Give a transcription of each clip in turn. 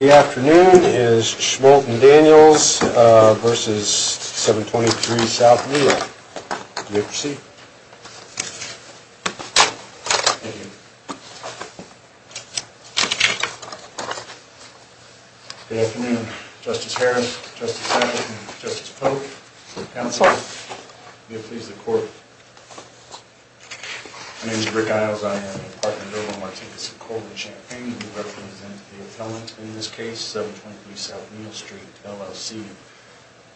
The afternoon is Schmoldt & Daniels v. 723 S Neil. You may proceed. Thank you. Good afternoon, Justice Harris, Justice Abbott, and Justice Polk. Your counsel. May it please the Court. My name is Rick Iles. I am a partner in the murder of Martinkus Colvin Champagne. I represent the appellant in this case, 723 S Neil Street, LLC.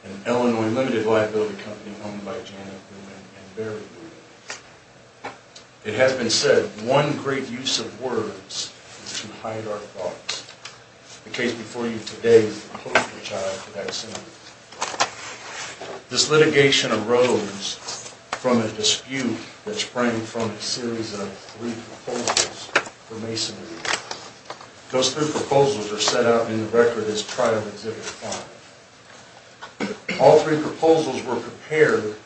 An Illinois limited liability company owned by Janet Newman and Barry Newman. It has been said, one great use of words is to hide our thoughts. The case before you today is the Polk v. Child v. Axson. This litigation arose from a dispute that sprang from a series of brief proposals for Masonry. Those three proposals are set out in the record as Trial Exhibit 5. All three proposals were prepared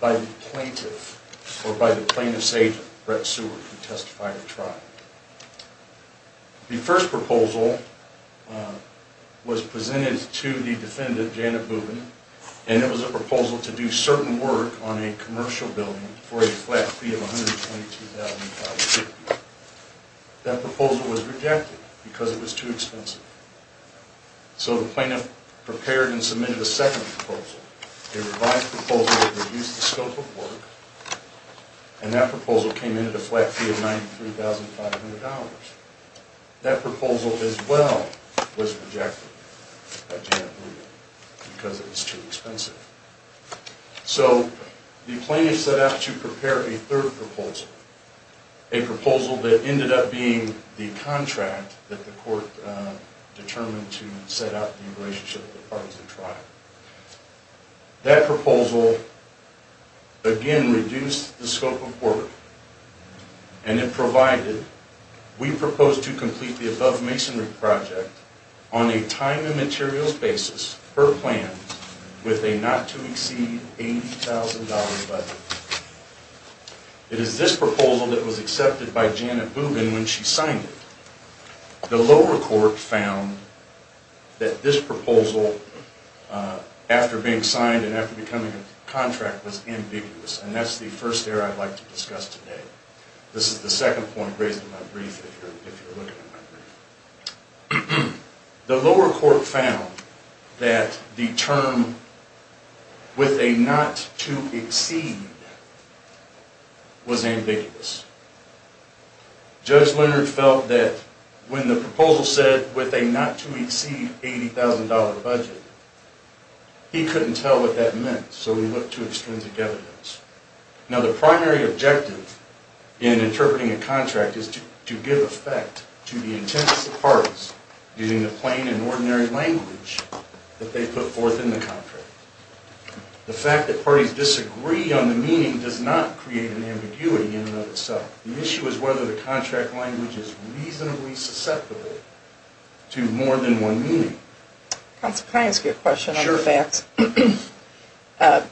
by the plaintiff, or by the plaintiff's agent, Brett Seward, to testify to trial. The first proposal was presented to the defendant, Janet Newman, and it was a proposal to do certain work on a commercial building for a flat fee of $122,000. That proposal was rejected because it was too expensive. So the plaintiff prepared and submitted a second proposal, a revised proposal that reduced the scope of work, and that proposal came in at a flat fee of $93,500. That proposal as well was rejected by Janet Newman because it was too expensive. So the plaintiff set out to prepare a third proposal. A proposal that ended up being the contract that the court determined to set out in relationship with the parties of trial. That proposal, again, reduced the scope of work, and it provided, we propose to complete the above masonry project on a time and materials basis, per plan, with a not to exceed $80,000 budget. It is this proposal that was accepted by Janet Newman when she signed it. The lower court found that this proposal, after being signed and after becoming a contract, was ambiguous, and that's the first error I'd like to discuss today. This is the second point raised in my brief, if you're looking at my brief. The lower court found that the term with a not to exceed was ambiguous. Judge Leonard felt that when the proposal said with a not to exceed $80,000 budget, he couldn't tell what that meant, so he looked to extrinsic evidence. Now, the primary objective in interpreting a contract is to give effect to the intent of the parties, using the plain and ordinary language that they put forth in the contract. The fact that parties disagree on the meaning does not create an ambiguity in and of itself. The issue is whether the contract language is reasonably susceptible to more than one meaning. Counsel, can I ask you a question on the facts? Sure.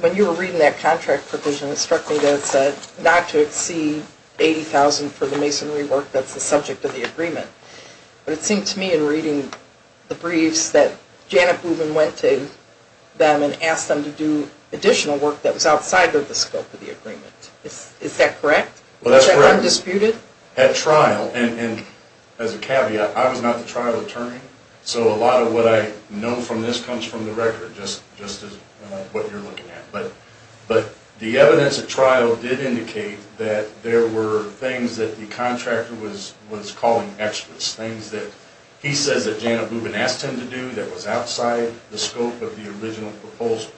When you were reading that contract provision, it struck me that it said, not to exceed $80,000 for the masonry work that's the subject of the agreement. But it seemed to me in reading the briefs that Janet Newman went to them and asked them to do additional work that was outside of the scope of the agreement. Is that correct? Well, that's correct. Is that undisputed? As a caveat, I was not the trial attorney, so a lot of what I know from this comes from the record, just as what you're looking at. But the evidence at trial did indicate that there were things that the contractor was calling extras, things that he says that Janet Newman asked him to do that was outside the scope of the original proposal.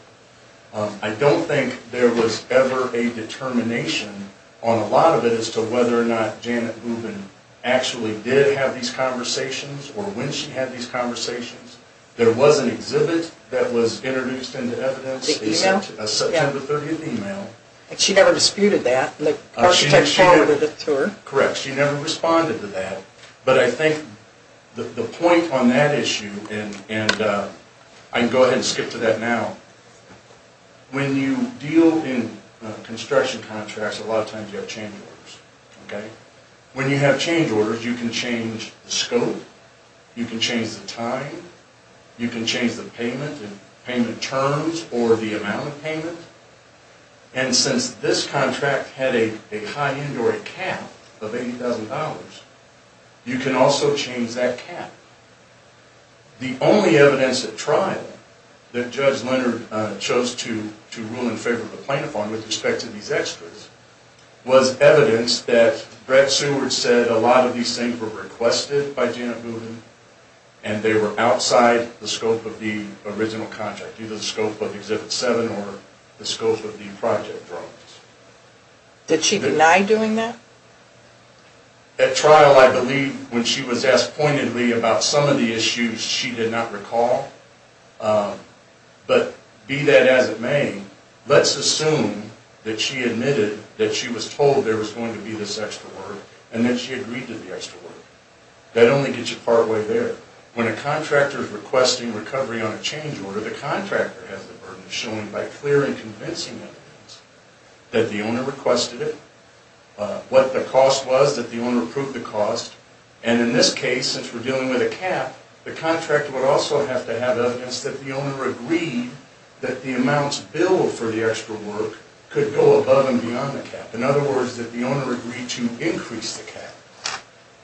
I don't think there was ever a determination on a lot of it as to whether or not Janet Newman actually did have these conversations or when she had these conversations. There was an exhibit that was introduced into evidence. The email? A September 30th email. She never disputed that? The architect forwarded it to her? Correct. She never responded to that. But I think the point on that issue, and I can go ahead and skip to that now, when you deal in construction contracts, a lot of times you have change orders. When you have change orders, you can change the scope. You can change the time. You can change the payment terms or the amount of payment. And since this contract had a high end or a cap of $80,000, you can also change that cap. The only evidence at trial that Judge Leonard chose to rule in favor of the plaintiff on with respect to these extras was evidence that Brett Seward said a lot of these things were requested by Janet Newman, and they were outside the scope of the original contract, either the scope of Exhibit 7 or the scope of the project drawings. Did she deny doing that? At trial, I believe when she was asked pointedly about some of the issues, she did not recall. But be that as it may, let's assume that she admitted that she was told there was going to be this extra work and that she agreed to the extra work. That only gets you partway there. When a contractor is requesting recovery on a change order, the contractor has the burden of showing by clear and convincing evidence that the owner requested it, what the cost was, that the owner approved the cost. And in this case, since we're dealing with a cap, the contractor would also have to have evidence that the owner agreed that the amount billed for the extra work could go above and beyond the cap. In other words, that the owner agreed to increase the cap.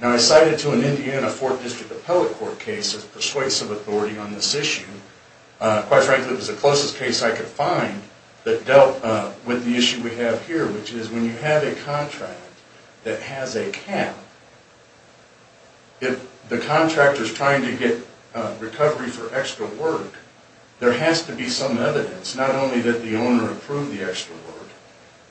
Now, I cited to an Indiana 4th District Appellate Court case of persuasive authority on this issue. Quite frankly, it was the closest case I could find that dealt with the issue we have here, which is when you have a contract that has a cap, if the contractor is trying to get recovery for extra work, there has to be some evidence, not only that the owner approved the extra work,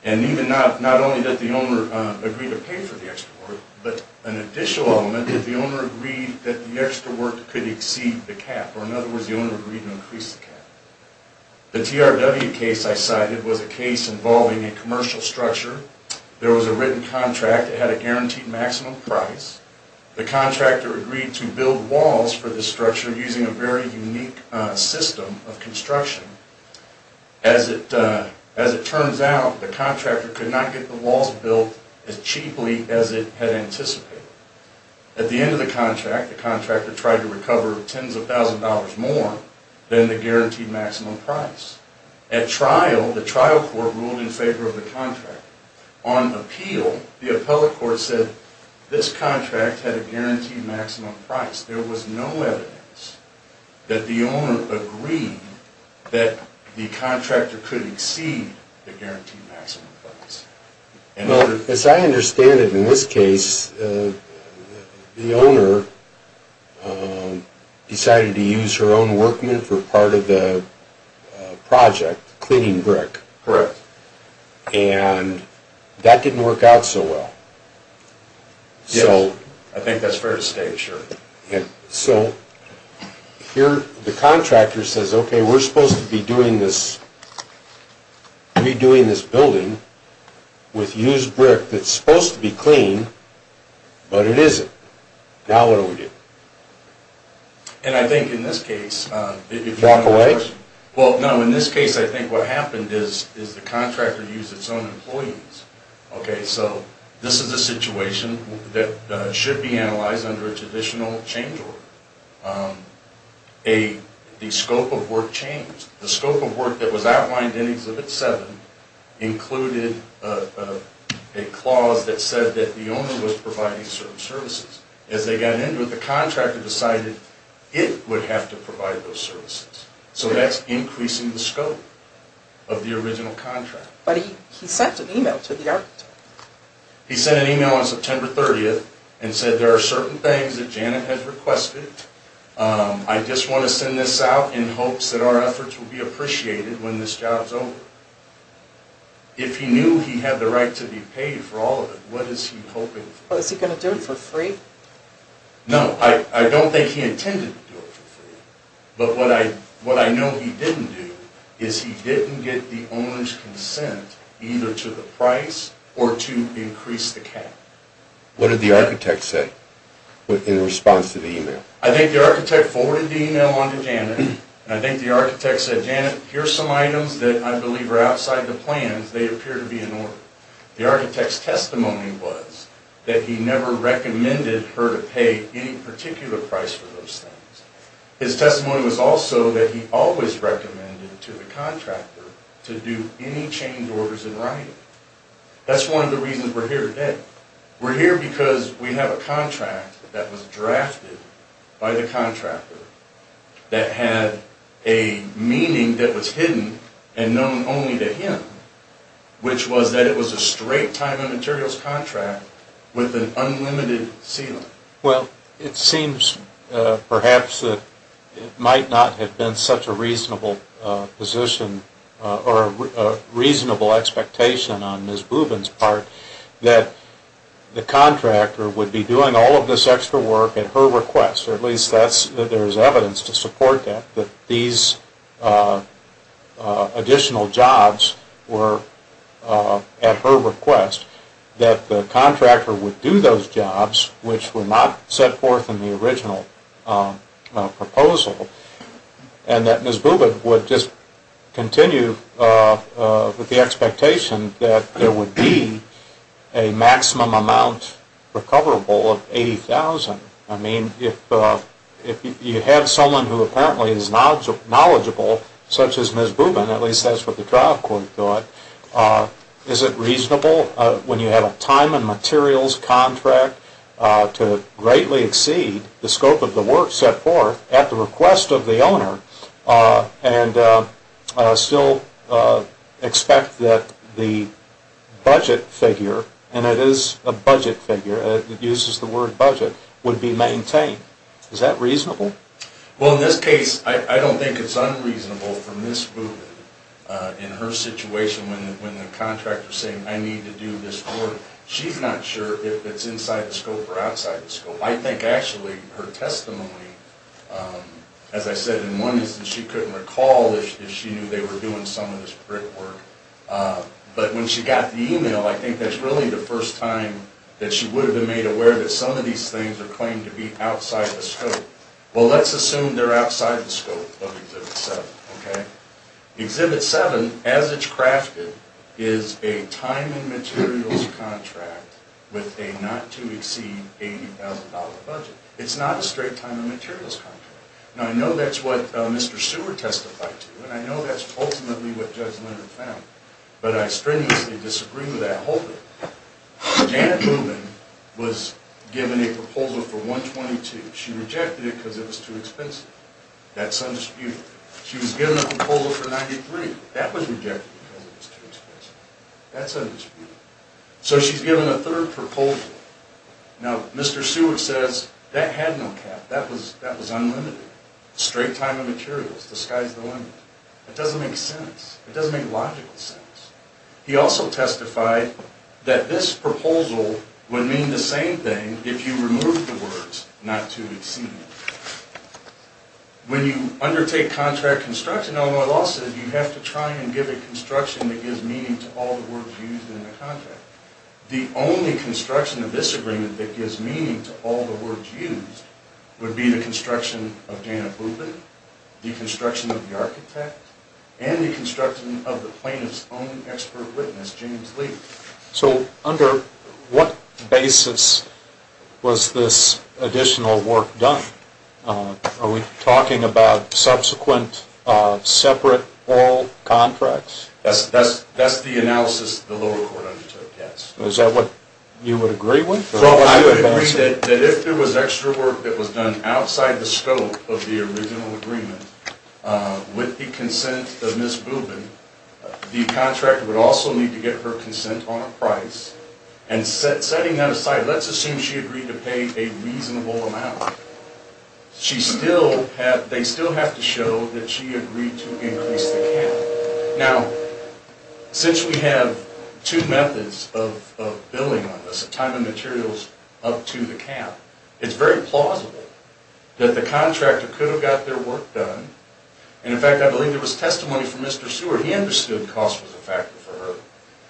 and even not only that the owner agreed to pay for the extra work, but an additional element that the owner agreed that the extra work could exceed the cap. Or in other words, the owner agreed to increase the cap. The TRW case I cited was a case involving a commercial structure. There was a written contract that had a guaranteed maximum price. The contractor agreed to build walls for the structure using a very unique system of construction. As it turns out, the contractor could not get the walls built as cheaply as it had anticipated. At the end of the contract, the contractor tried to recover tens of thousands of dollars more than the guaranteed maximum price. At trial, the trial court ruled in favor of the contract. On appeal, the appellate court said this contract had a guaranteed maximum price. There was no evidence that the owner agreed that the contractor could exceed the guaranteed maximum price. As I understand it, in this case, the owner decided to use her own workmen for part of the project, cleaning brick. Correct. And that didn't work out so well. Yes. I think that's fair to say, sure. So here the contractor says, okay, we're supposed to be doing this, redoing this building with used brick that's supposed to be clean, but it isn't. Now what do we do? And I think in this case... Walk away? Well, no. In this case, I think what happened is the contractor used its own employees. Okay, so this is a situation that should be analyzed under a traditional change order. The scope of work changed. The scope of work that was outlined in Exhibit 7 included a clause that said that the owner was providing certain services. As they got into it, the contractor decided it would have to provide those services. So that's increasing the scope of the original contract. But he sent an email to the architect. He sent an email on September 30th and said, there are certain things that Janet has requested. I just want to send this out in hopes that our efforts will be appreciated when this job's over. If he knew he had the right to be paid for all of it, what is he hoping for? Was he going to do it for free? No, I don't think he intended to do it for free. But what I know he didn't do is he didn't get the owner's consent either to the price or to increase the cap. What did the architect say in response to the email? I think the architect forwarded the email on to Janet, and I think the architect said, Janet, here are some items that I believe are outside the plans. They appear to be in order. The architect's testimony was that he never recommended her to pay any particular price for those things. His testimony was also that he always recommended to the contractor to do any change orders in writing. That's one of the reasons we're here today. We're here because we have a contract that was drafted by the contractor that had a meaning that was hidden and known only to him, which was that it was a straight time and materials contract with an unlimited ceiling. Well, it seems perhaps that it might not have been such a reasonable position or a reasonable expectation on Ms. Bubin's part that the contractor would be doing all of this extra work at her request, or at least there's evidence to support that, that these additional jobs were at her request, that the contractor would do those jobs which were not set forth in the original proposal, and that Ms. Bubin would just continue with the expectation that there would be a maximum amount recoverable of $80,000. I mean, if you have someone who apparently is knowledgeable, such as Ms. Bubin, at least that's what the trial court thought, is it reasonable when you have a time and materials contract to greatly exceed the scope of the work set forth at the request of the owner and still expect that the budget figure, and it is a budget figure, it uses the word budget, would be maintained? Is that reasonable? Well, in this case, I don't think it's unreasonable for Ms. Bubin in her situation when the contractor is saying, I need to do this work, she's not sure if it's inside the scope or outside the scope. I think actually her testimony, as I said, in one instance she couldn't recall if she knew they were doing some of this brick work, but when she got the email, I think that's really the first time that she would have been made aware that some of these things are claimed to be outside the scope. Well, let's assume they're outside the scope of Exhibit 7, okay? Exhibit 7, as it's crafted, is a time and materials contract with a not-to-exceed $80,000 budget. It's not a straight time and materials contract. Now, I know that's what Mr. Seward testified to, and I know that's ultimately what Judge Leonard found, but I strenuously disagree with that whole thing. Janet Bubin was given a proposal for $122,000. She rejected it because it was too expensive. That's undisputed. She was given a proposal for $93,000. That was rejected because it was too expensive. That's undisputed. So she's given a third proposal. Now, Mr. Seward says that had no cap. That was unlimited. Straight time and materials. The sky's the limit. That doesn't make sense. It doesn't make logical sense. He also testified that this proposal would mean the same thing if you removed the words not-to-exceed. When you undertake contract construction, although I lost it, you have to try and give it construction that gives meaning to all the words used in the contract. The only construction of this agreement that gives meaning to all the words used would be the construction of Janet Bubin, the construction of the architect, and the construction of the plaintiff's own expert witness, James Lee. So under what basis was this additional work done? Are we talking about subsequent separate all contracts? That's the analysis the lower court undertook, yes. Is that what you would agree with? I would agree that if there was extra work that was done outside the scope of the original agreement, with the consent of Ms. Bubin, the contractor would also need to get her consent on a price. And setting that aside, let's assume she agreed to pay a reasonable amount. They still have to show that she agreed to increase the cap. Now, since we have two methods of billing on this, time and materials up to the cap, it's very plausible that the contractor could have got their work done. And in fact, I believe there was testimony from Mr. Seward. He understood cost was a factor for her.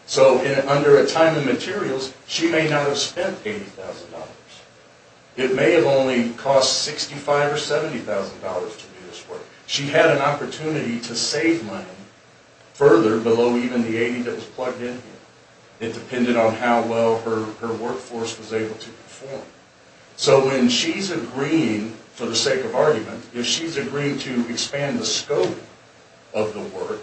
So under a time and materials, she may not have spent $80,000. It may have only cost $65,000 or $70,000 to do this work. She had an opportunity to save money further below even the $80,000 that was plugged in here. It depended on how well her workforce was able to perform. So when she's agreeing, for the sake of argument, if she's agreeing to expand the scope of the work,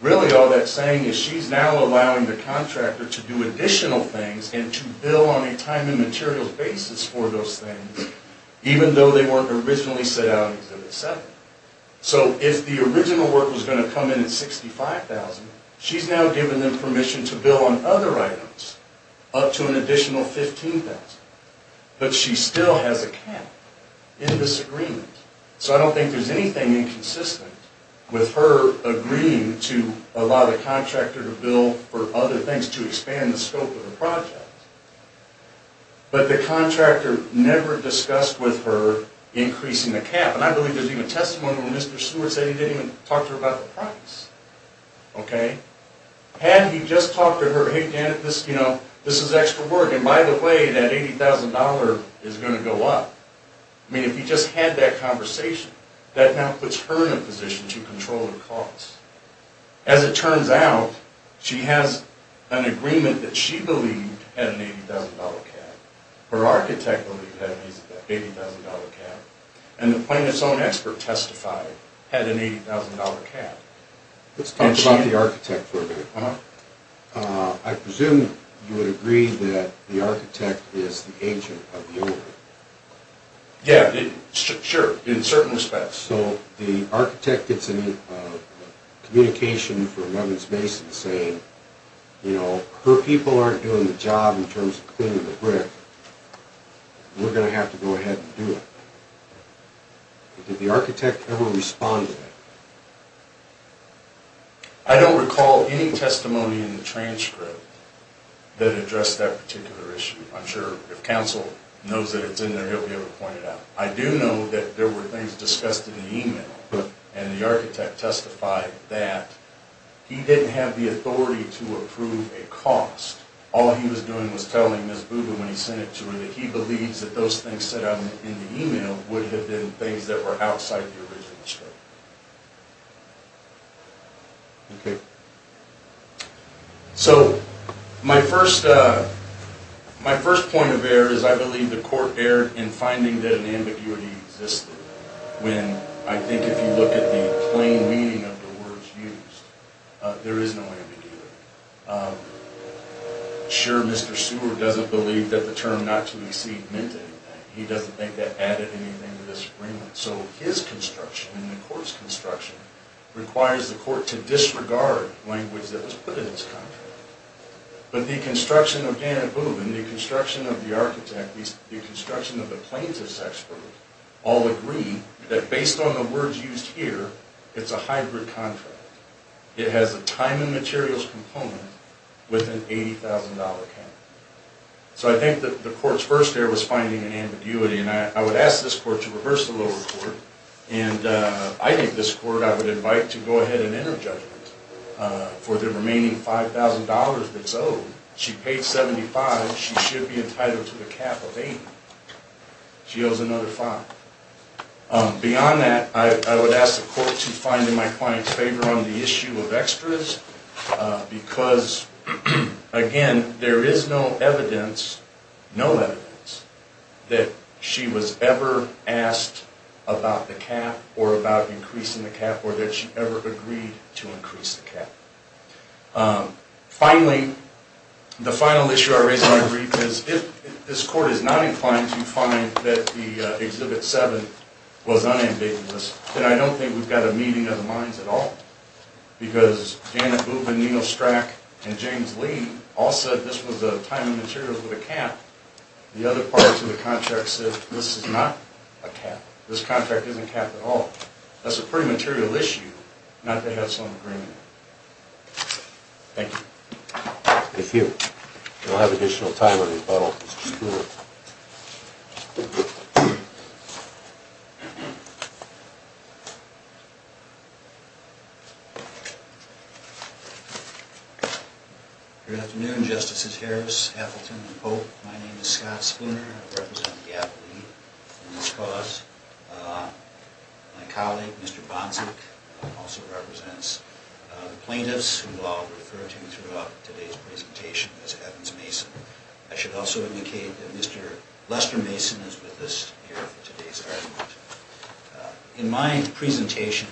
really all that's saying is she's now allowing the contractor to do additional things and to bill on a time and materials basis for those things, even though they weren't originally set out to be set. So if the original work was going to come in at $65,000, she's now given them permission to bill on other items up to an additional $15,000. But she still has a cap in this agreement. So I don't think there's anything inconsistent with her agreeing to allow the contractor to bill for other things to expand the scope of the project. But the contractor never discussed with her increasing the cap. And I believe there's even testimony where Mr. Seward said he didn't even talk to her about the price. Had he just talked to her, hey, Janet, this is extra work. And by the way, that $80,000 is going to go up. I mean, if he just had that conversation, that now puts her in a position to control her costs. As it turns out, she has an agreement that she believed had an $80,000 cap. Her architect believed that it was an $80,000 cap. And the plaintiff's own expert testified had an $80,000 cap. Let's talk about the architect for a minute. I presume you would agree that the architect is the agent of the owner. Yeah, sure, in certain respects. So the architect gets a communication from Evans Mason saying, her people aren't doing the job in terms of cleaning the brick. We're going to have to go ahead and do it. Did the architect ever respond to that? I don't recall any testimony in the transcript that addressed that particular issue. I'm sure if counsel knows that it's in there, he'll be able to point it out. I do know that there were things discussed in the email, and the architect testified that he didn't have the authority to approve a cost. All he was doing was telling Ms. Booga when he sent it to her that he believes that those things said in the email would have been things that were outside the original scope. So my first point of error is I believe the court erred in finding that an ambiguity existed. I think if you look at the plain meaning of the words used, there is no ambiguity. Sure, Mr. Seward doesn't believe that the term not to exceed meant anything. He doesn't think that added anything to this agreement. So his construction, and the court's construction, requires the court to disregard language that was put in its contract. But the construction of Dan and Boo, and the construction of the architect, the construction of the plaintiff's expert, all agree that based on the words used here, it's a hybrid contract. It has a time and materials component with an $80,000 cap. So I think that the court's first error was finding an ambiguity, and I would ask this court to reverse the lower court. And I think this court I would invite to go ahead and enter judgment. For the remaining $5,000 that's owed, she paid $75,000. She should be entitled to the cap of $80,000. She owes another $5,000. Beyond that, I would ask the court to find in my client's favor on the issue of extras, because, again, there is no evidence, no evidence, that she was ever asked about the cap, or about increasing the cap, or that she ever agreed to increase the cap. Finally, the final issue I raise, and I agree, because if this court is not inclined to find that the Exhibit 7 was unambiguous, then I don't think we've got a meeting of the minds at all, because Janet Boob and Neil Strack and James Lee all said this was a time and materials with a cap. The other parts of the contract said this is not a cap. This contract isn't a cap at all. That's a pretty material issue, not to have some agreement. Thank you. Thank you. We'll have additional time in rebuttal. Mr. Spooner. Good afternoon, Justices Harris, Appleton, and Pope. My name is Scott Spooner. I represent the athlete in this cause. My colleague, Mr. Bonsack, also represents the plaintiffs, who I'll refer to throughout today's presentation as Evans Mason. I should also indicate that Mr. Lester Mason is with us here for today's argument. In my presentation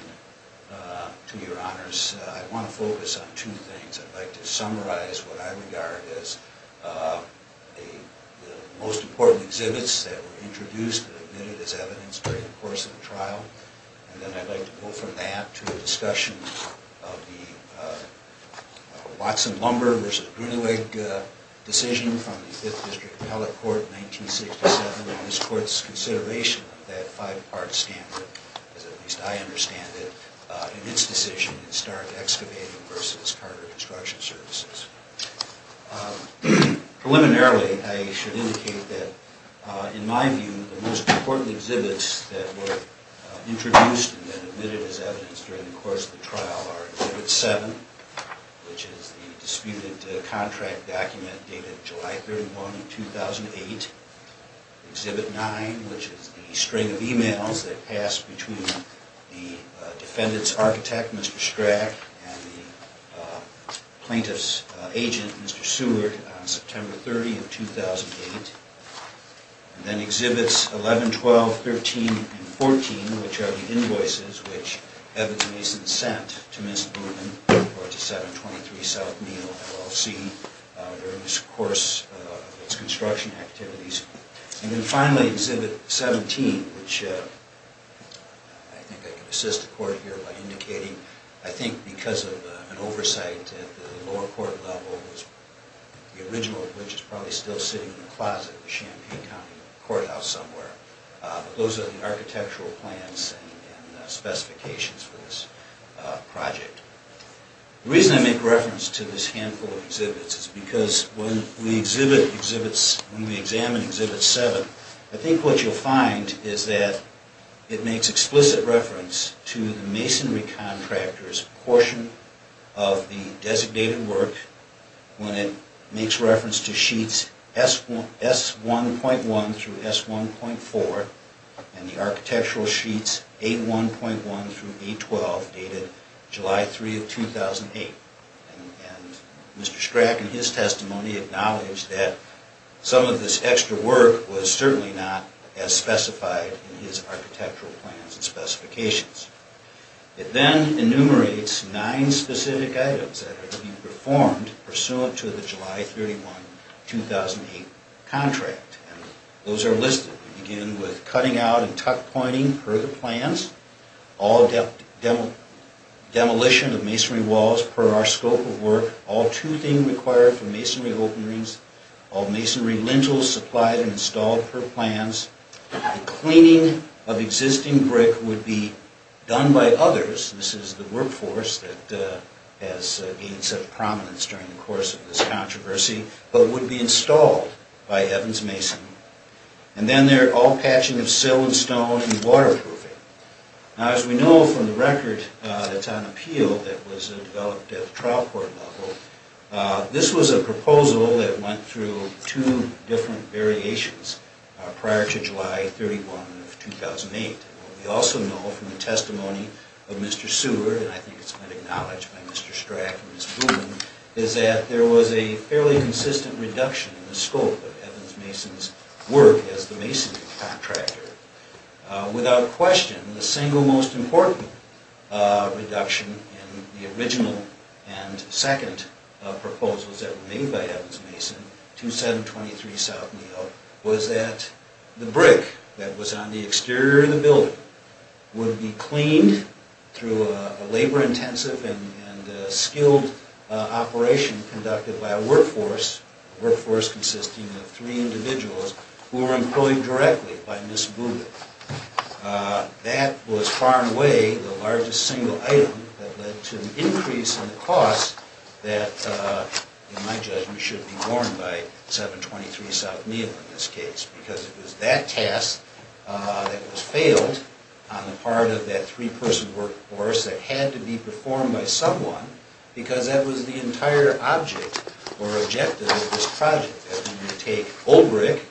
to your honors, I want to focus on two things. I'd like to summarize what I regard as the most important exhibits that were introduced and admitted as evidence during the course of the trial, and then I'd like to go from that to a discussion of the Watson-Lumber v. Brunelig decision from the 5th District Appellate Court in 1967 and this Court's consideration of that five-part standard, as at least I understand it, in its decision in Stark Excavating v. Carter Construction Services. Preliminarily, I should indicate that, in my view, the most important exhibits that were introduced and then admitted as evidence during the course of the trial are Exhibit 7, which is the disputed contract document dated July 31, 2008. Exhibit 9, which is the string of emails that passed between the defendant's architect, Mr. Strack, and the plaintiff's agent, Mr. Seward, on September 30, 2008. Then Exhibits 11, 12, 13, and 14, which are the invoices which Evans Mason sent to Ms. Blumen or to 723 South Neal, LLC, during this course of its construction activities. And then finally, Exhibit 17, which I think I can assist the Court here by indicating, I think because of an oversight at the lower court level, the original of which is probably still sitting in the closet of the Champaign County Courthouse somewhere, but those are the architectural plans and specifications for this project. The reason I make reference to this handful of exhibits is because when we examine Exhibit 7, I think what you'll find is that it makes explicit reference to the masonry contractor's portion of the designated work when it makes reference to sheets S1.1 through S1.4 and the architectural sheets A1.1 through A12 dated July 3, 2008. And Mr. Strack, in his testimony, acknowledged that some of this extra work was certainly not as specified in his architectural plans and specifications. It then enumerates nine specific items that are to be performed pursuant to the July 31, 2008 contract. And those are listed. We begin with cutting out and tuck-pointing per the plans, all demolition of masonry walls per our scope of work, all toothing required for masonry openings, all masonry lintels supplied and installed per plans. The cleaning of existing brick would be done by others. This is the workforce that has gained such prominence during the course of this controversy, but would be installed by Evans Mason. And then all patching of sill and stone and waterproofing. Now, as we know from the record that's on appeal that was developed at the trial court level, this was a proposal that went through two different variations prior to July 31, 2008. We also know from the testimony of Mr. Seward, and I think it's been acknowledged by Mr. Strack and Ms. Boone, is that there was a fairly consistent reduction in the scope of Evans Mason's work as the masonry contractor. Without question, the single most important reduction in the original and second proposals that were made by Evans Mason to 723 South Neal was that the brick that was on the exterior of the building would be cleaned through a labor-intensive and skilled operation conducted by a workforce, a workforce consisting of three individuals who were employed directly by Ms. Boone. That was far and away the largest single item that led to an increase in the cost that in my judgment should be borne by 723 South Neal in this case, because it was that task that was failed on the part of that three-person workforce that had to be performed by someone because that was the entire object or objective of this project, that we would take old brick,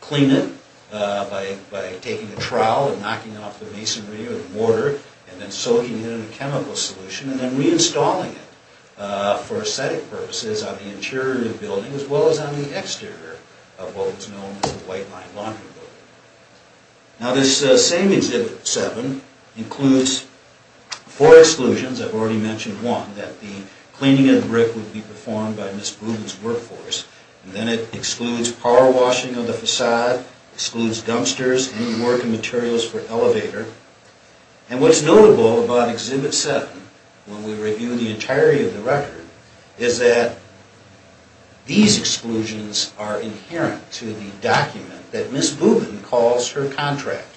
clean it by taking a trowel and knocking off the masonry or the mortar and then soaking it in a chemical solution and then reinstalling it for aesthetic purposes on the interior of the building as well as on the exterior of what was known as the White Line Laundry Building. Now, this same Exhibit 7 includes four exclusions. I've already mentioned one, that the cleaning of the brick would be performed by Ms. Boone's workforce, and then it excludes power washing of the facade, excludes dumpsters, any work and materials for an elevator. And what's notable about Exhibit 7 when we review the entirety of the record is that these exclusions are inherent to the document that Ms. Boone calls her contract.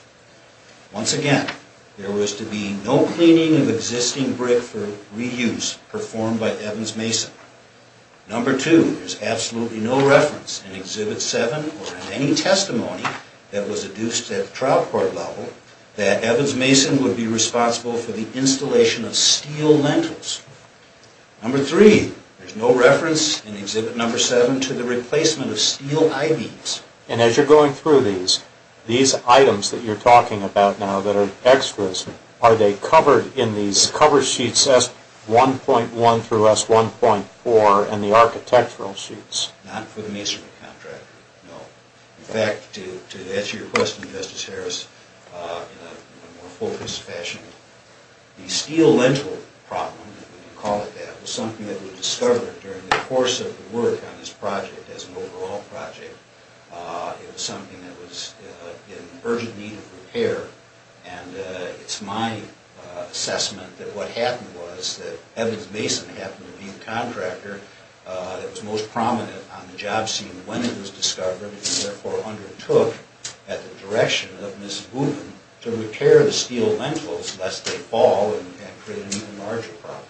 Once again, there was to be no cleaning of existing brick for reuse performed by Evans Mason. Number two, there's absolutely no reference in Exhibit 7 or in any testimony that was adduced at trial court level that Evans Mason would be responsible for the installation of steel lentils. Number three, there's no reference in Exhibit 7 to the replacement of steel I-beams. And as you're going through these, these items that you're talking about now that are extras, are they covered in these cover sheets, S1.1 through S1.4 and the architectural sheets? Not for the masonry contract, no. In fact, to answer your question, Justice Harris, in a more focused fashion, the steel lentil problem, when you call it that, was something that was discovered during the course of the work on this project as an overall project. It was something that was in urgent need of repair. And it's my assessment that what happened was that Evans Mason happened to be the contractor that was most prominent on the job scene when it was discovered, and therefore undertook at the direction of Ms. Boone to repair the steel lentils lest they fall and create an even larger problem.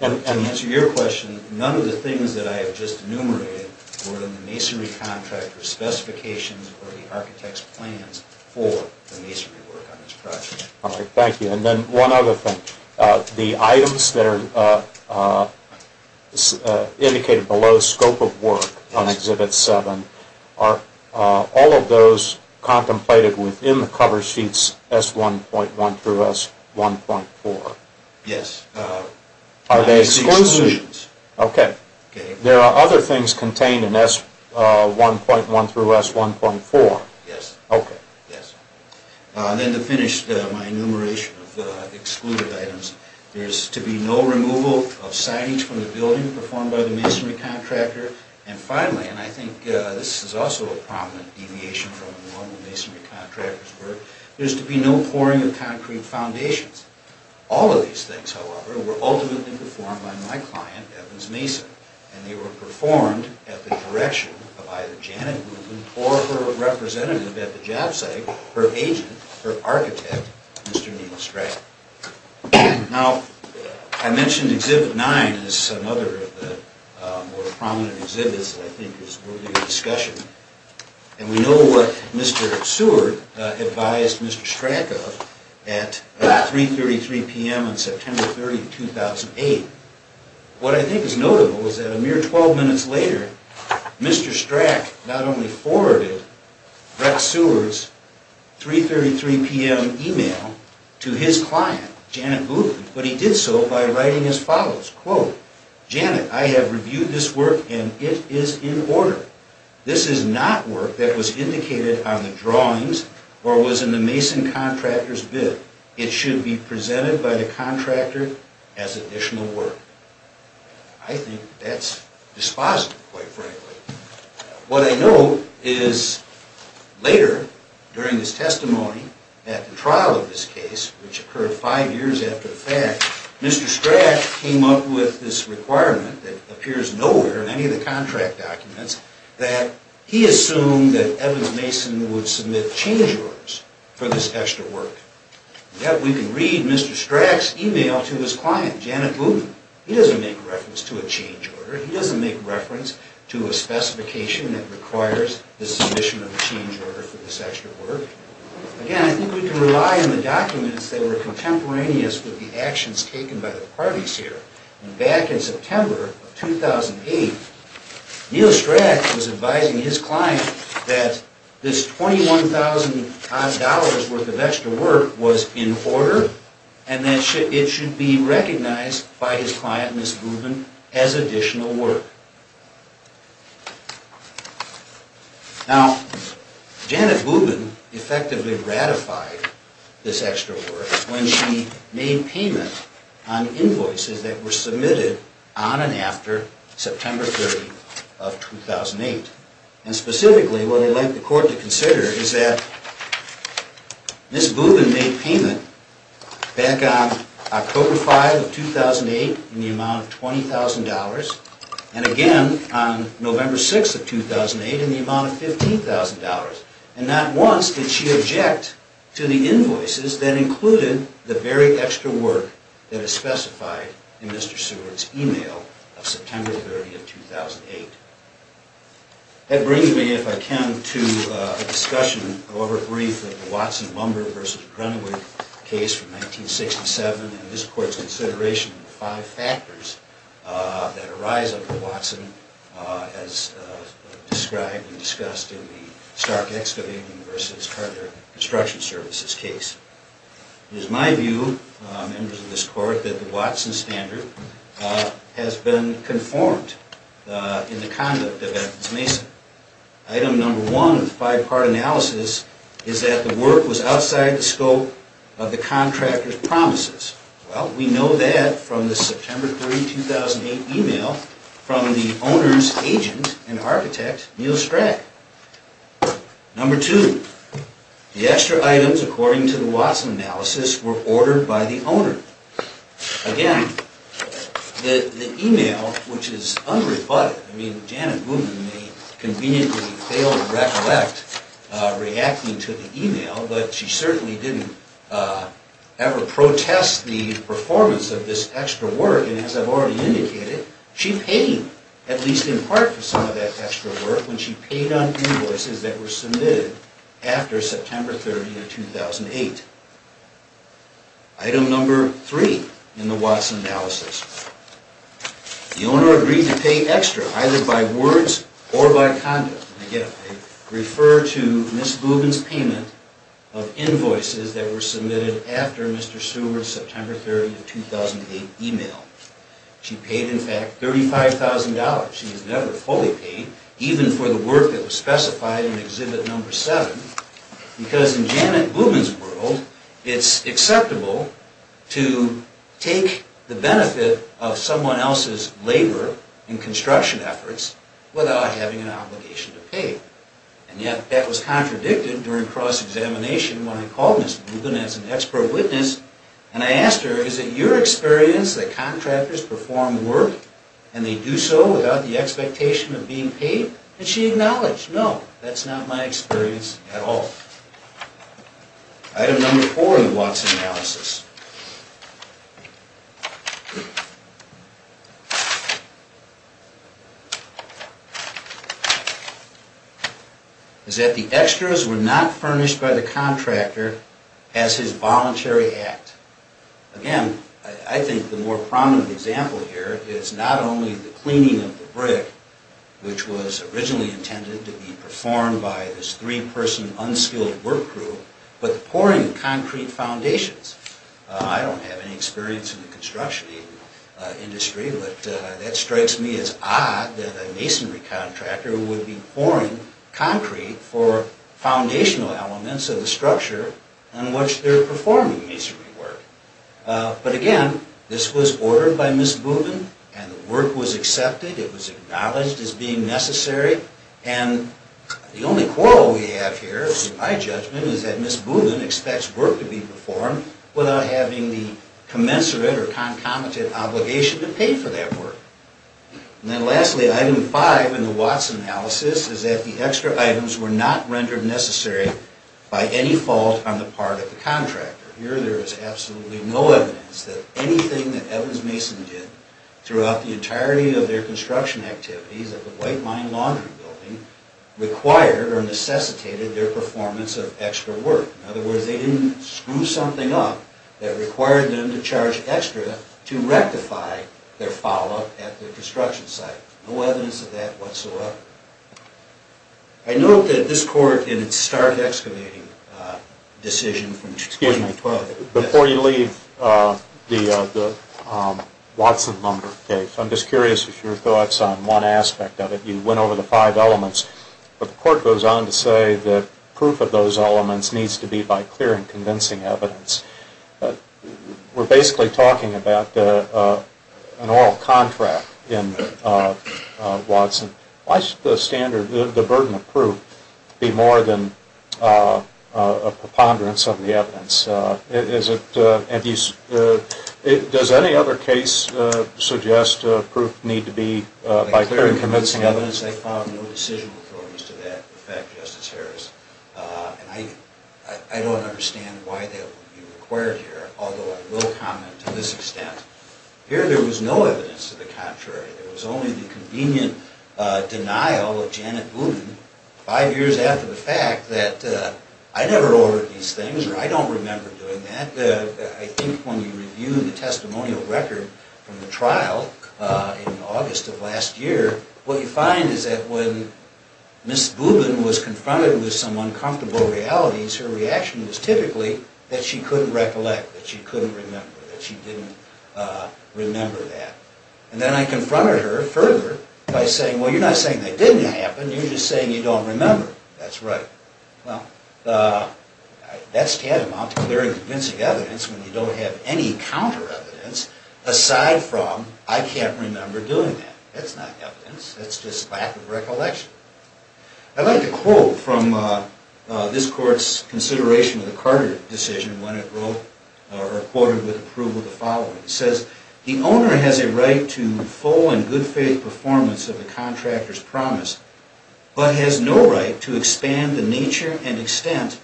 And to answer your question, none of the things that I have just enumerated were in the masonry contractor's specifications or the architect's plans for the masonry work on this project. All right, thank you. And then one other thing. The items that are indicated below scope of work on Exhibit 7, are all of those contemplated within the cover sheets S1.1 through S1.4? Yes. Are they exclusions? Okay. There are other things contained in S1.1 through S1.4? Yes. Okay. Yes. And then to finish my enumeration of the excluded items, there is to be no removal of signage from the building performed by the masonry contractor. And finally, and I think this is also a prominent deviation from the normal masonry contractor's work, there is to be no pouring of concrete foundations. All of these things, however, were ultimately performed by my client, Evans Mason. And they were performed at the direction of either Janet Woodman or her representative at the job site, her agent, her architect, Mr. Neil Strachan. Now, I mentioned Exhibit 9 as another of the more prominent exhibits that I think is worthy of discussion. And we know what Mr. Seward advised Mr. Strachan of at 3.33 p.m. on September 30, 2008. What I think is notable is that a mere 12 minutes later, Mr. Strach not only forwarded Brett Seward's 3.33 p.m. email to his client, Janet Woodman, but he did so by writing as follows, quote, Janet, I have reviewed this work and it is in order. This is not work that was indicated on the drawings or was in the mason contractor's bid. It should be presented by the contractor as additional work. I think that's dispositive, quite frankly. What I note is later, during his testimony at the trial of this case, which occurred five years after the fact, Mr. Strach came up with this requirement that appears nowhere in any of the contract documents that he assumed that Evans Mason would submit change orders for this extra work. Yet we can read Mr. Strach's email to his client, Janet Woodman. He doesn't make reference to a change order. He doesn't make reference to a specification that requires the submission of a change order for this extra work. Again, I think we can rely on the documents that were contemporaneous with the actions taken by the parties here. And back in September of 2008, Neil Strach was advising his client that this $21,000 worth of extra work was in order and that it should be recognized by his client, Ms. Woodman, as additional work. Now, Janet Woodman effectively ratified this extra work when she made payment on invoices that were submitted on and after September 30th of 2008. And specifically, what I'd like the Court to consider is that Ms. Woodman made payment back on October 5th of 2008 in the amount of $20,000 and again on November 6th of 2008 in the amount of $15,000. And not once did she object to the invoices that included the very extra work that is specified in Mr. Seward's email of September 30th of 2008. That brings me, if I can, to a discussion over a brief of the Watson-Lumber v. Grenewick case from 1967 and this Court's consideration of the five factors that arise under Watson as described and discussed in the Stark Excavation v. Carter Construction Services case. It is my view, members of this Court, that the Watson standard has been conformed in the conduct of Evans Mason. Item number one of the five-part analysis is that the work was outside the scope of the contractor's promises. Well, we know that from the September 3, 2008 email from the owner's agent and architect, Neil Strack. Number two, the extra items, according to the Watson analysis, were ordered by the owner. Again, the email, which is unrebutted, Janet Woodman may conveniently fail to recollect reacting to the email, but she certainly didn't ever protest the performance of this extra work. And as I've already indicated, she paid, at least in part, for some of that extra work when she paid on invoices that were submitted after September 30, 2008. Item number three in the Watson analysis, the owner agreed to pay extra either by words or by conduct. Again, I refer to Ms. Woodman's payment of invoices that were submitted after Mr. Seward's September 30, 2008 email. She paid, in fact, $35,000. She was never fully paid, even for the work that was specified in exhibit number seven, because in Janet Woodman's world, it's acceptable to take the benefit of someone else's labor and construction efforts without having an obligation to pay. And yet, that was contradicted during cross-examination when I called Ms. Woodman as an expert witness, and I asked her, is it your experience that contractors perform work, and they do so without the expectation of being paid? And she acknowledged, no, that's not my experience at all. Item number four in the Watson analysis is that the extras were not furnished by the contractor as his voluntary act. Again, I think the more prominent example here is not only the cleaning of the brick, which was originally intended to be performed by this three-person unskilled work crew, but the pouring of concrete foundations. I don't have any experience in the construction industry, but that strikes me as odd that a masonry contractor would be pouring concrete for foundational elements of the structure on which they're performing masonry work. But again, this was ordered by Ms. Woodman, and the work was accepted. It was acknowledged as being necessary. And the only quarrel we have here, in my judgment, is that Ms. Woodman expects work to be performed without having the commensurate or concomitant obligation to pay for that work. And then lastly, item five in the Watson analysis is that the extra items were not rendered necessary by any fault on the part of the contractor. Here, there is absolutely no evidence that anything that Evans Mason did throughout the entirety of their construction activities at the White Line Laundry Building required or necessitated their performance of extra work. In other words, they didn't screw something up that required them to charge extra to rectify their follow-up at the construction site. No evidence of that whatsoever. I note that this Court, in its start excavating decision from 2012... Excuse me. Before you leave the Watson lumber case, I'm just curious of your thoughts on one aspect of it. You went over the five elements, but the Court goes on to say that proof of those elements needs to be by clear and convincing evidence. We're basically talking about an oral contract in Watson. Why should the burden of proof be more than a preponderance of the evidence? Does any other case suggest proof need to be by clear and convincing evidence? I found no decision authorities to that effect, Justice Harris. I don't understand why that would be required here, although I will comment to this extent. Here, there was no evidence to the contrary. There was only the convenient denial of Janet Blumen five years after the fact that I never ordered these things or I don't remember doing that. I think when you review the testimonial record from the trial in August of last year, what you find is that when Ms. Blumen was confronted with some uncomfortable realities, her reaction was typically that she couldn't recollect, that she couldn't remember, that she didn't remember that. And then I confronted her further by saying, well, you're not saying that didn't happen. You're just saying you don't remember. That's right. Well, that's tantamount to clear and convincing evidence when you don't have any counter evidence aside from I can't remember doing that. That's not evidence. That's just lack of recollection. I'd like to quote from this court's consideration of the Carter decision when it quoted with approval the following. It says, the owner has a right to full and good faith performance of the contractor's promise, but has no right to expand the nature and extent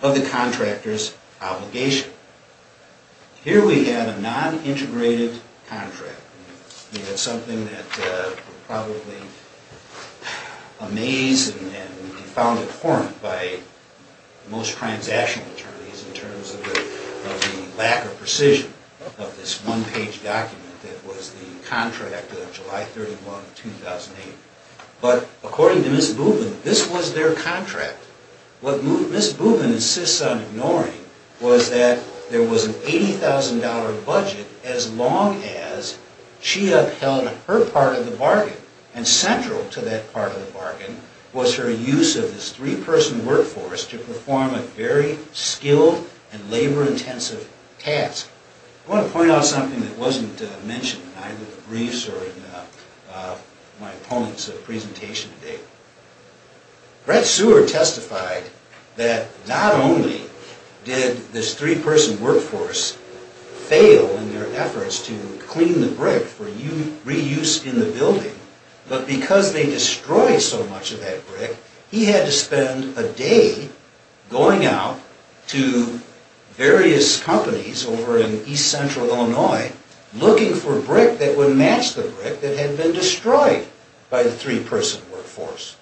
of the contractor's obligation. Here we have a non-integrated contract. It's something that probably amazes and is found abhorrent by most transactional attorneys in terms of the lack of precision of this one-page document that was the contract of July 31, 2008. But according to Ms. Blumen, this was their contract. What Ms. Blumen insists on ignoring was that there was an $80,000 budget as long as she upheld her part of the bargain. And central to that part of the bargain was her use of this three-person workforce to perform a very skilled and labor-intensive task. I want to point out something that wasn't mentioned in either the briefs or in my opponent's presentation today. Brett Seward testified that not only did this three-person workforce fail in their efforts to clean the brick for reuse in the building, but because they destroyed so much of that brick, he had to spend a day going out to various companies over in east-central Illinois looking for brick that would match the brick that had been destroyed by the three-person workforce.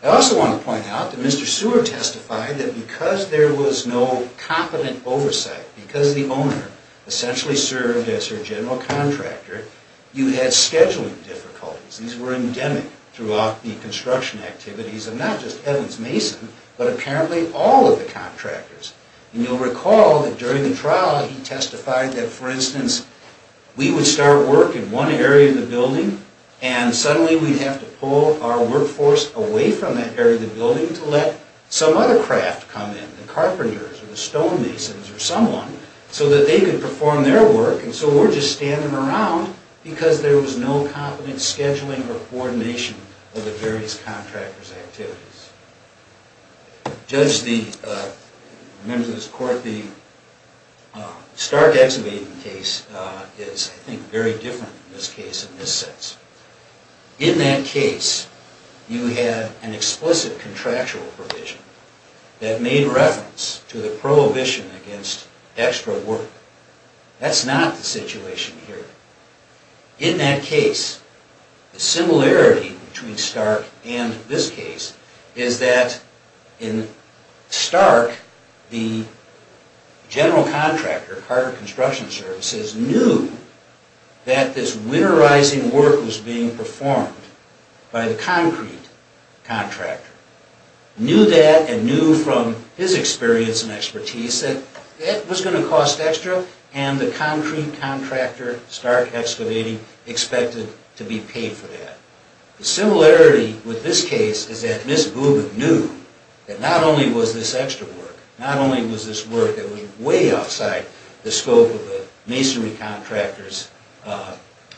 I also want to point out that Mr. Seward testified that because there was no competent oversight, because the owner essentially served as her general contractor, you had scheduling difficulties. These were endemic throughout the construction activities of not just Evans Mason, but apparently all of the contractors. And you'll recall that during the trial he testified that, for instance, we would start work in one area of the building and suddenly we'd have to pull our workforce away from that area of the building to let some other craft come in, the carpenters or the stonemasons or someone, so that they could perform their work. And so we're just standing around because there was no competent scheduling or coordination of the various contractors' activities. Members of this Court, the Stark Excavating case is, I think, very different in this case in this sense. In that case, you had an explicit contractual provision that made reference to the prohibition against extra work. That's not the situation here. In that case, the similarity between Stark and this case is that in Stark, the general contractor, Carter Construction Services, knew that this winterizing work was being performed by the concrete contractor. Knew that and knew from his experience and expertise that that was going to cost extra, and the concrete contractor, Stark Excavating, expected to be paid for that. The similarity with this case is that Ms. Booboo knew that not only was this extra work, not only was this work that was way outside the scope of the masonry contractor's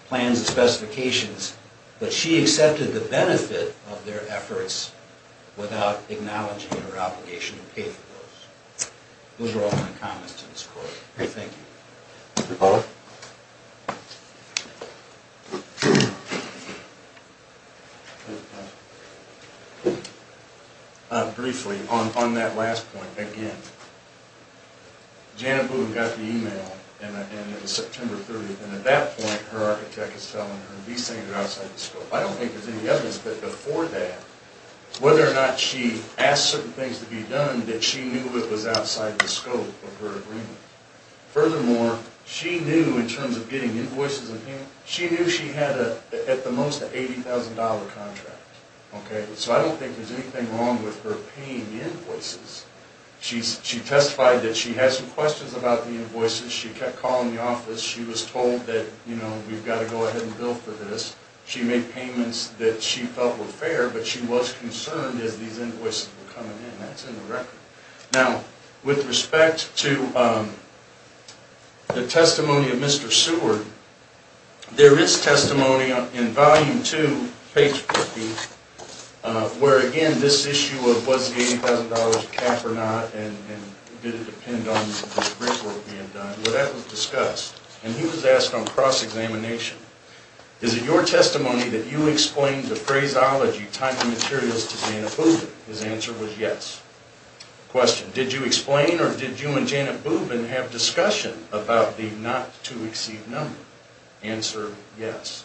plans and specifications, but she accepted the benefit of their efforts without acknowledging her obligation to pay for those. Those are all my comments to this Court. Thank you. Thank you, Paula. Briefly, on that last point, again, Janet Booboo got the email, and it was September 30th, and at that point, her architect is telling her these things are outside the scope. I don't think there's any evidence, but before that, whether or not she asked certain things to be done, that she knew it was outside the scope of her agreement. Furthermore, she knew in terms of getting invoices, she knew she had at the most an $80,000 contract. So I don't think there's anything wrong with her paying invoices. She testified that she had some questions about the invoices. She kept calling the office. She was told that, you know, we've got to go ahead and bill for this. She made payments that she felt were fair, but she was concerned as these invoices were coming in. That's in the record. Now, with respect to the testimony of Mr. Seward, there is testimony in Volume 2, page 50, where, again, this issue of was the $80,000 a cap or not, and did it depend on the brickwork being done. Well, that was discussed, and he was asked on cross-examination, Is it your testimony that you explained the phraseology tying the materials to Janet Bubin? His answer was yes. Question, did you explain or did you and Janet Bubin have discussion about the not-to-exceed number? Answer, yes.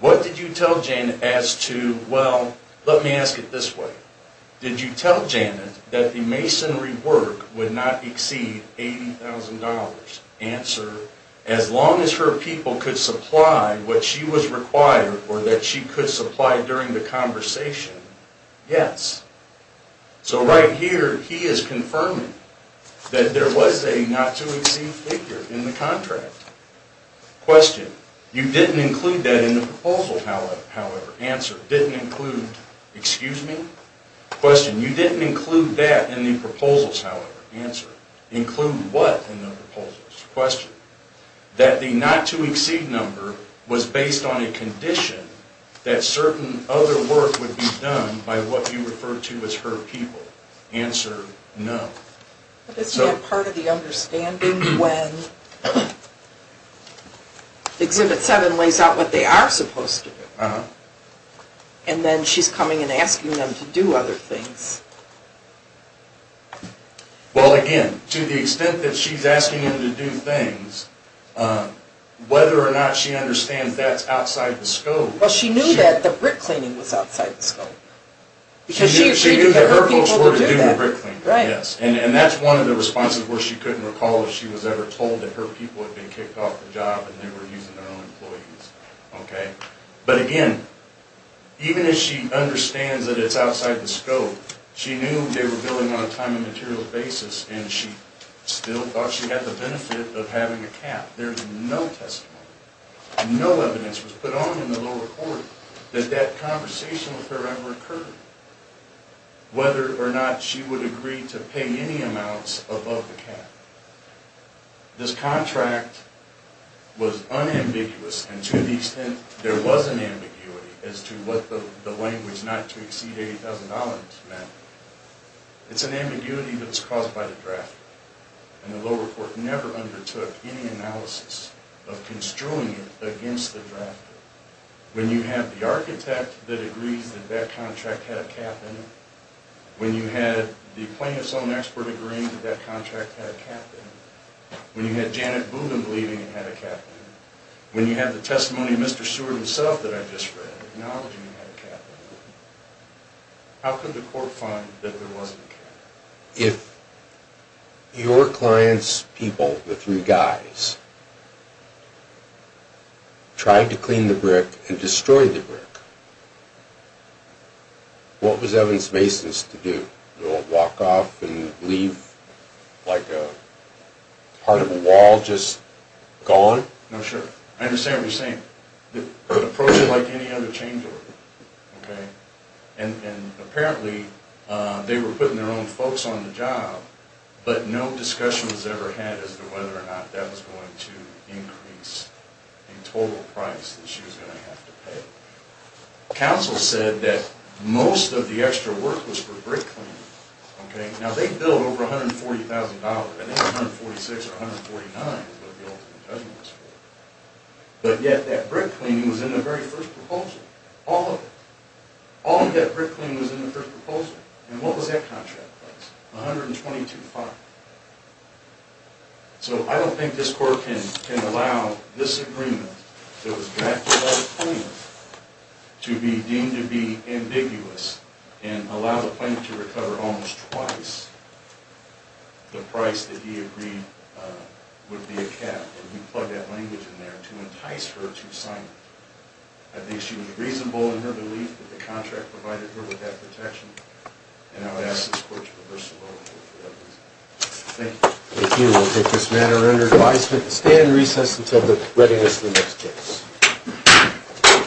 What did you tell Janet as to, well, let me ask it this way. Did you tell Janet that the masonry work would not exceed $80,000? Answer, as long as her people could supply what she was required or that she could supply during the conversation, yes. So right here, he is confirming that there was a not-to-exceed figure in the contract. Question, you didn't include that in the proposal, however? Answer, didn't include, excuse me? Question, you didn't include that in the proposals, however? Answer, include what in the proposals? Question, that the not-to-exceed number was based on a condition that certain other work would be done by what you refer to as her people? Answer, no. But isn't that part of the understanding when Exhibit 7 lays out what they are supposed to do, and then she's coming and asking them to do other things? Well, again, to the extent that she's asking them to do things, whether or not she understands that's outside the scope... Well, she knew that the brick cleaning was outside the scope. She knew that her folks were to do the brick cleaning, yes. And that's one of the responses where she couldn't recall if she was ever told that her people had been kicked off the job and they were using their own employees. But again, even if she understands that it's outside the scope, she knew they were building on a time and material basis, and she still thought she had the benefit of having a cap. There's no testimony, no evidence was put on in the lower court that that conversation with her ever occurred, whether or not she would agree to pay any amounts above the cap. This contract was unambiguous, and to the extent there was an ambiguity as to what the language not to exceed $80,000 meant, it's an ambiguity that was caused by the drafter. And the lower court never undertook any analysis of construing it against the drafter. When you have the architect that agrees that that contract had a cap in it, when you have the plaintiff's own expert agreeing that that contract had a cap in it, when you have Janet Boogan believing it had a cap in it, when you have the testimony of Mr. Seward himself that I just read acknowledging it had a cap in it, how could the court find that there wasn't a cap in it? If your client's people, the three guys, tried to clean the brick and destroy the brick, what was Evans-Mason's to do? Walk off and leave like a part of a wall just gone? No, sure. I understand what you're saying. Approach it like any other change order. And apparently they were putting their own folks on the job, but no discussion was ever had as to whether or not that was going to increase the total price that she was going to have to pay. Counsel said that most of the extra work was for brick cleaning. Now, they billed over $140,000. I think $146,000 or $149,000 is what the ultimate judgment was for. But yet that brick cleaning was in the very first proposal. All of it. All of that brick cleaning was in the first proposal. And what was that contract price? $122,500. So I don't think this court can allow this agreement that was drafted by the plaintiff to be deemed to be ambiguous and allow the plaintiff to recover almost twice the price that he agreed would be a cap. And we plug that language in there to entice her to sign it. I think she was reasonable in her belief that the contract provided her with that protection. And I would ask this court to reverse the vote. Thank you. Thank you. We'll take this matter under advisement to stand recess until the readiness of the next case.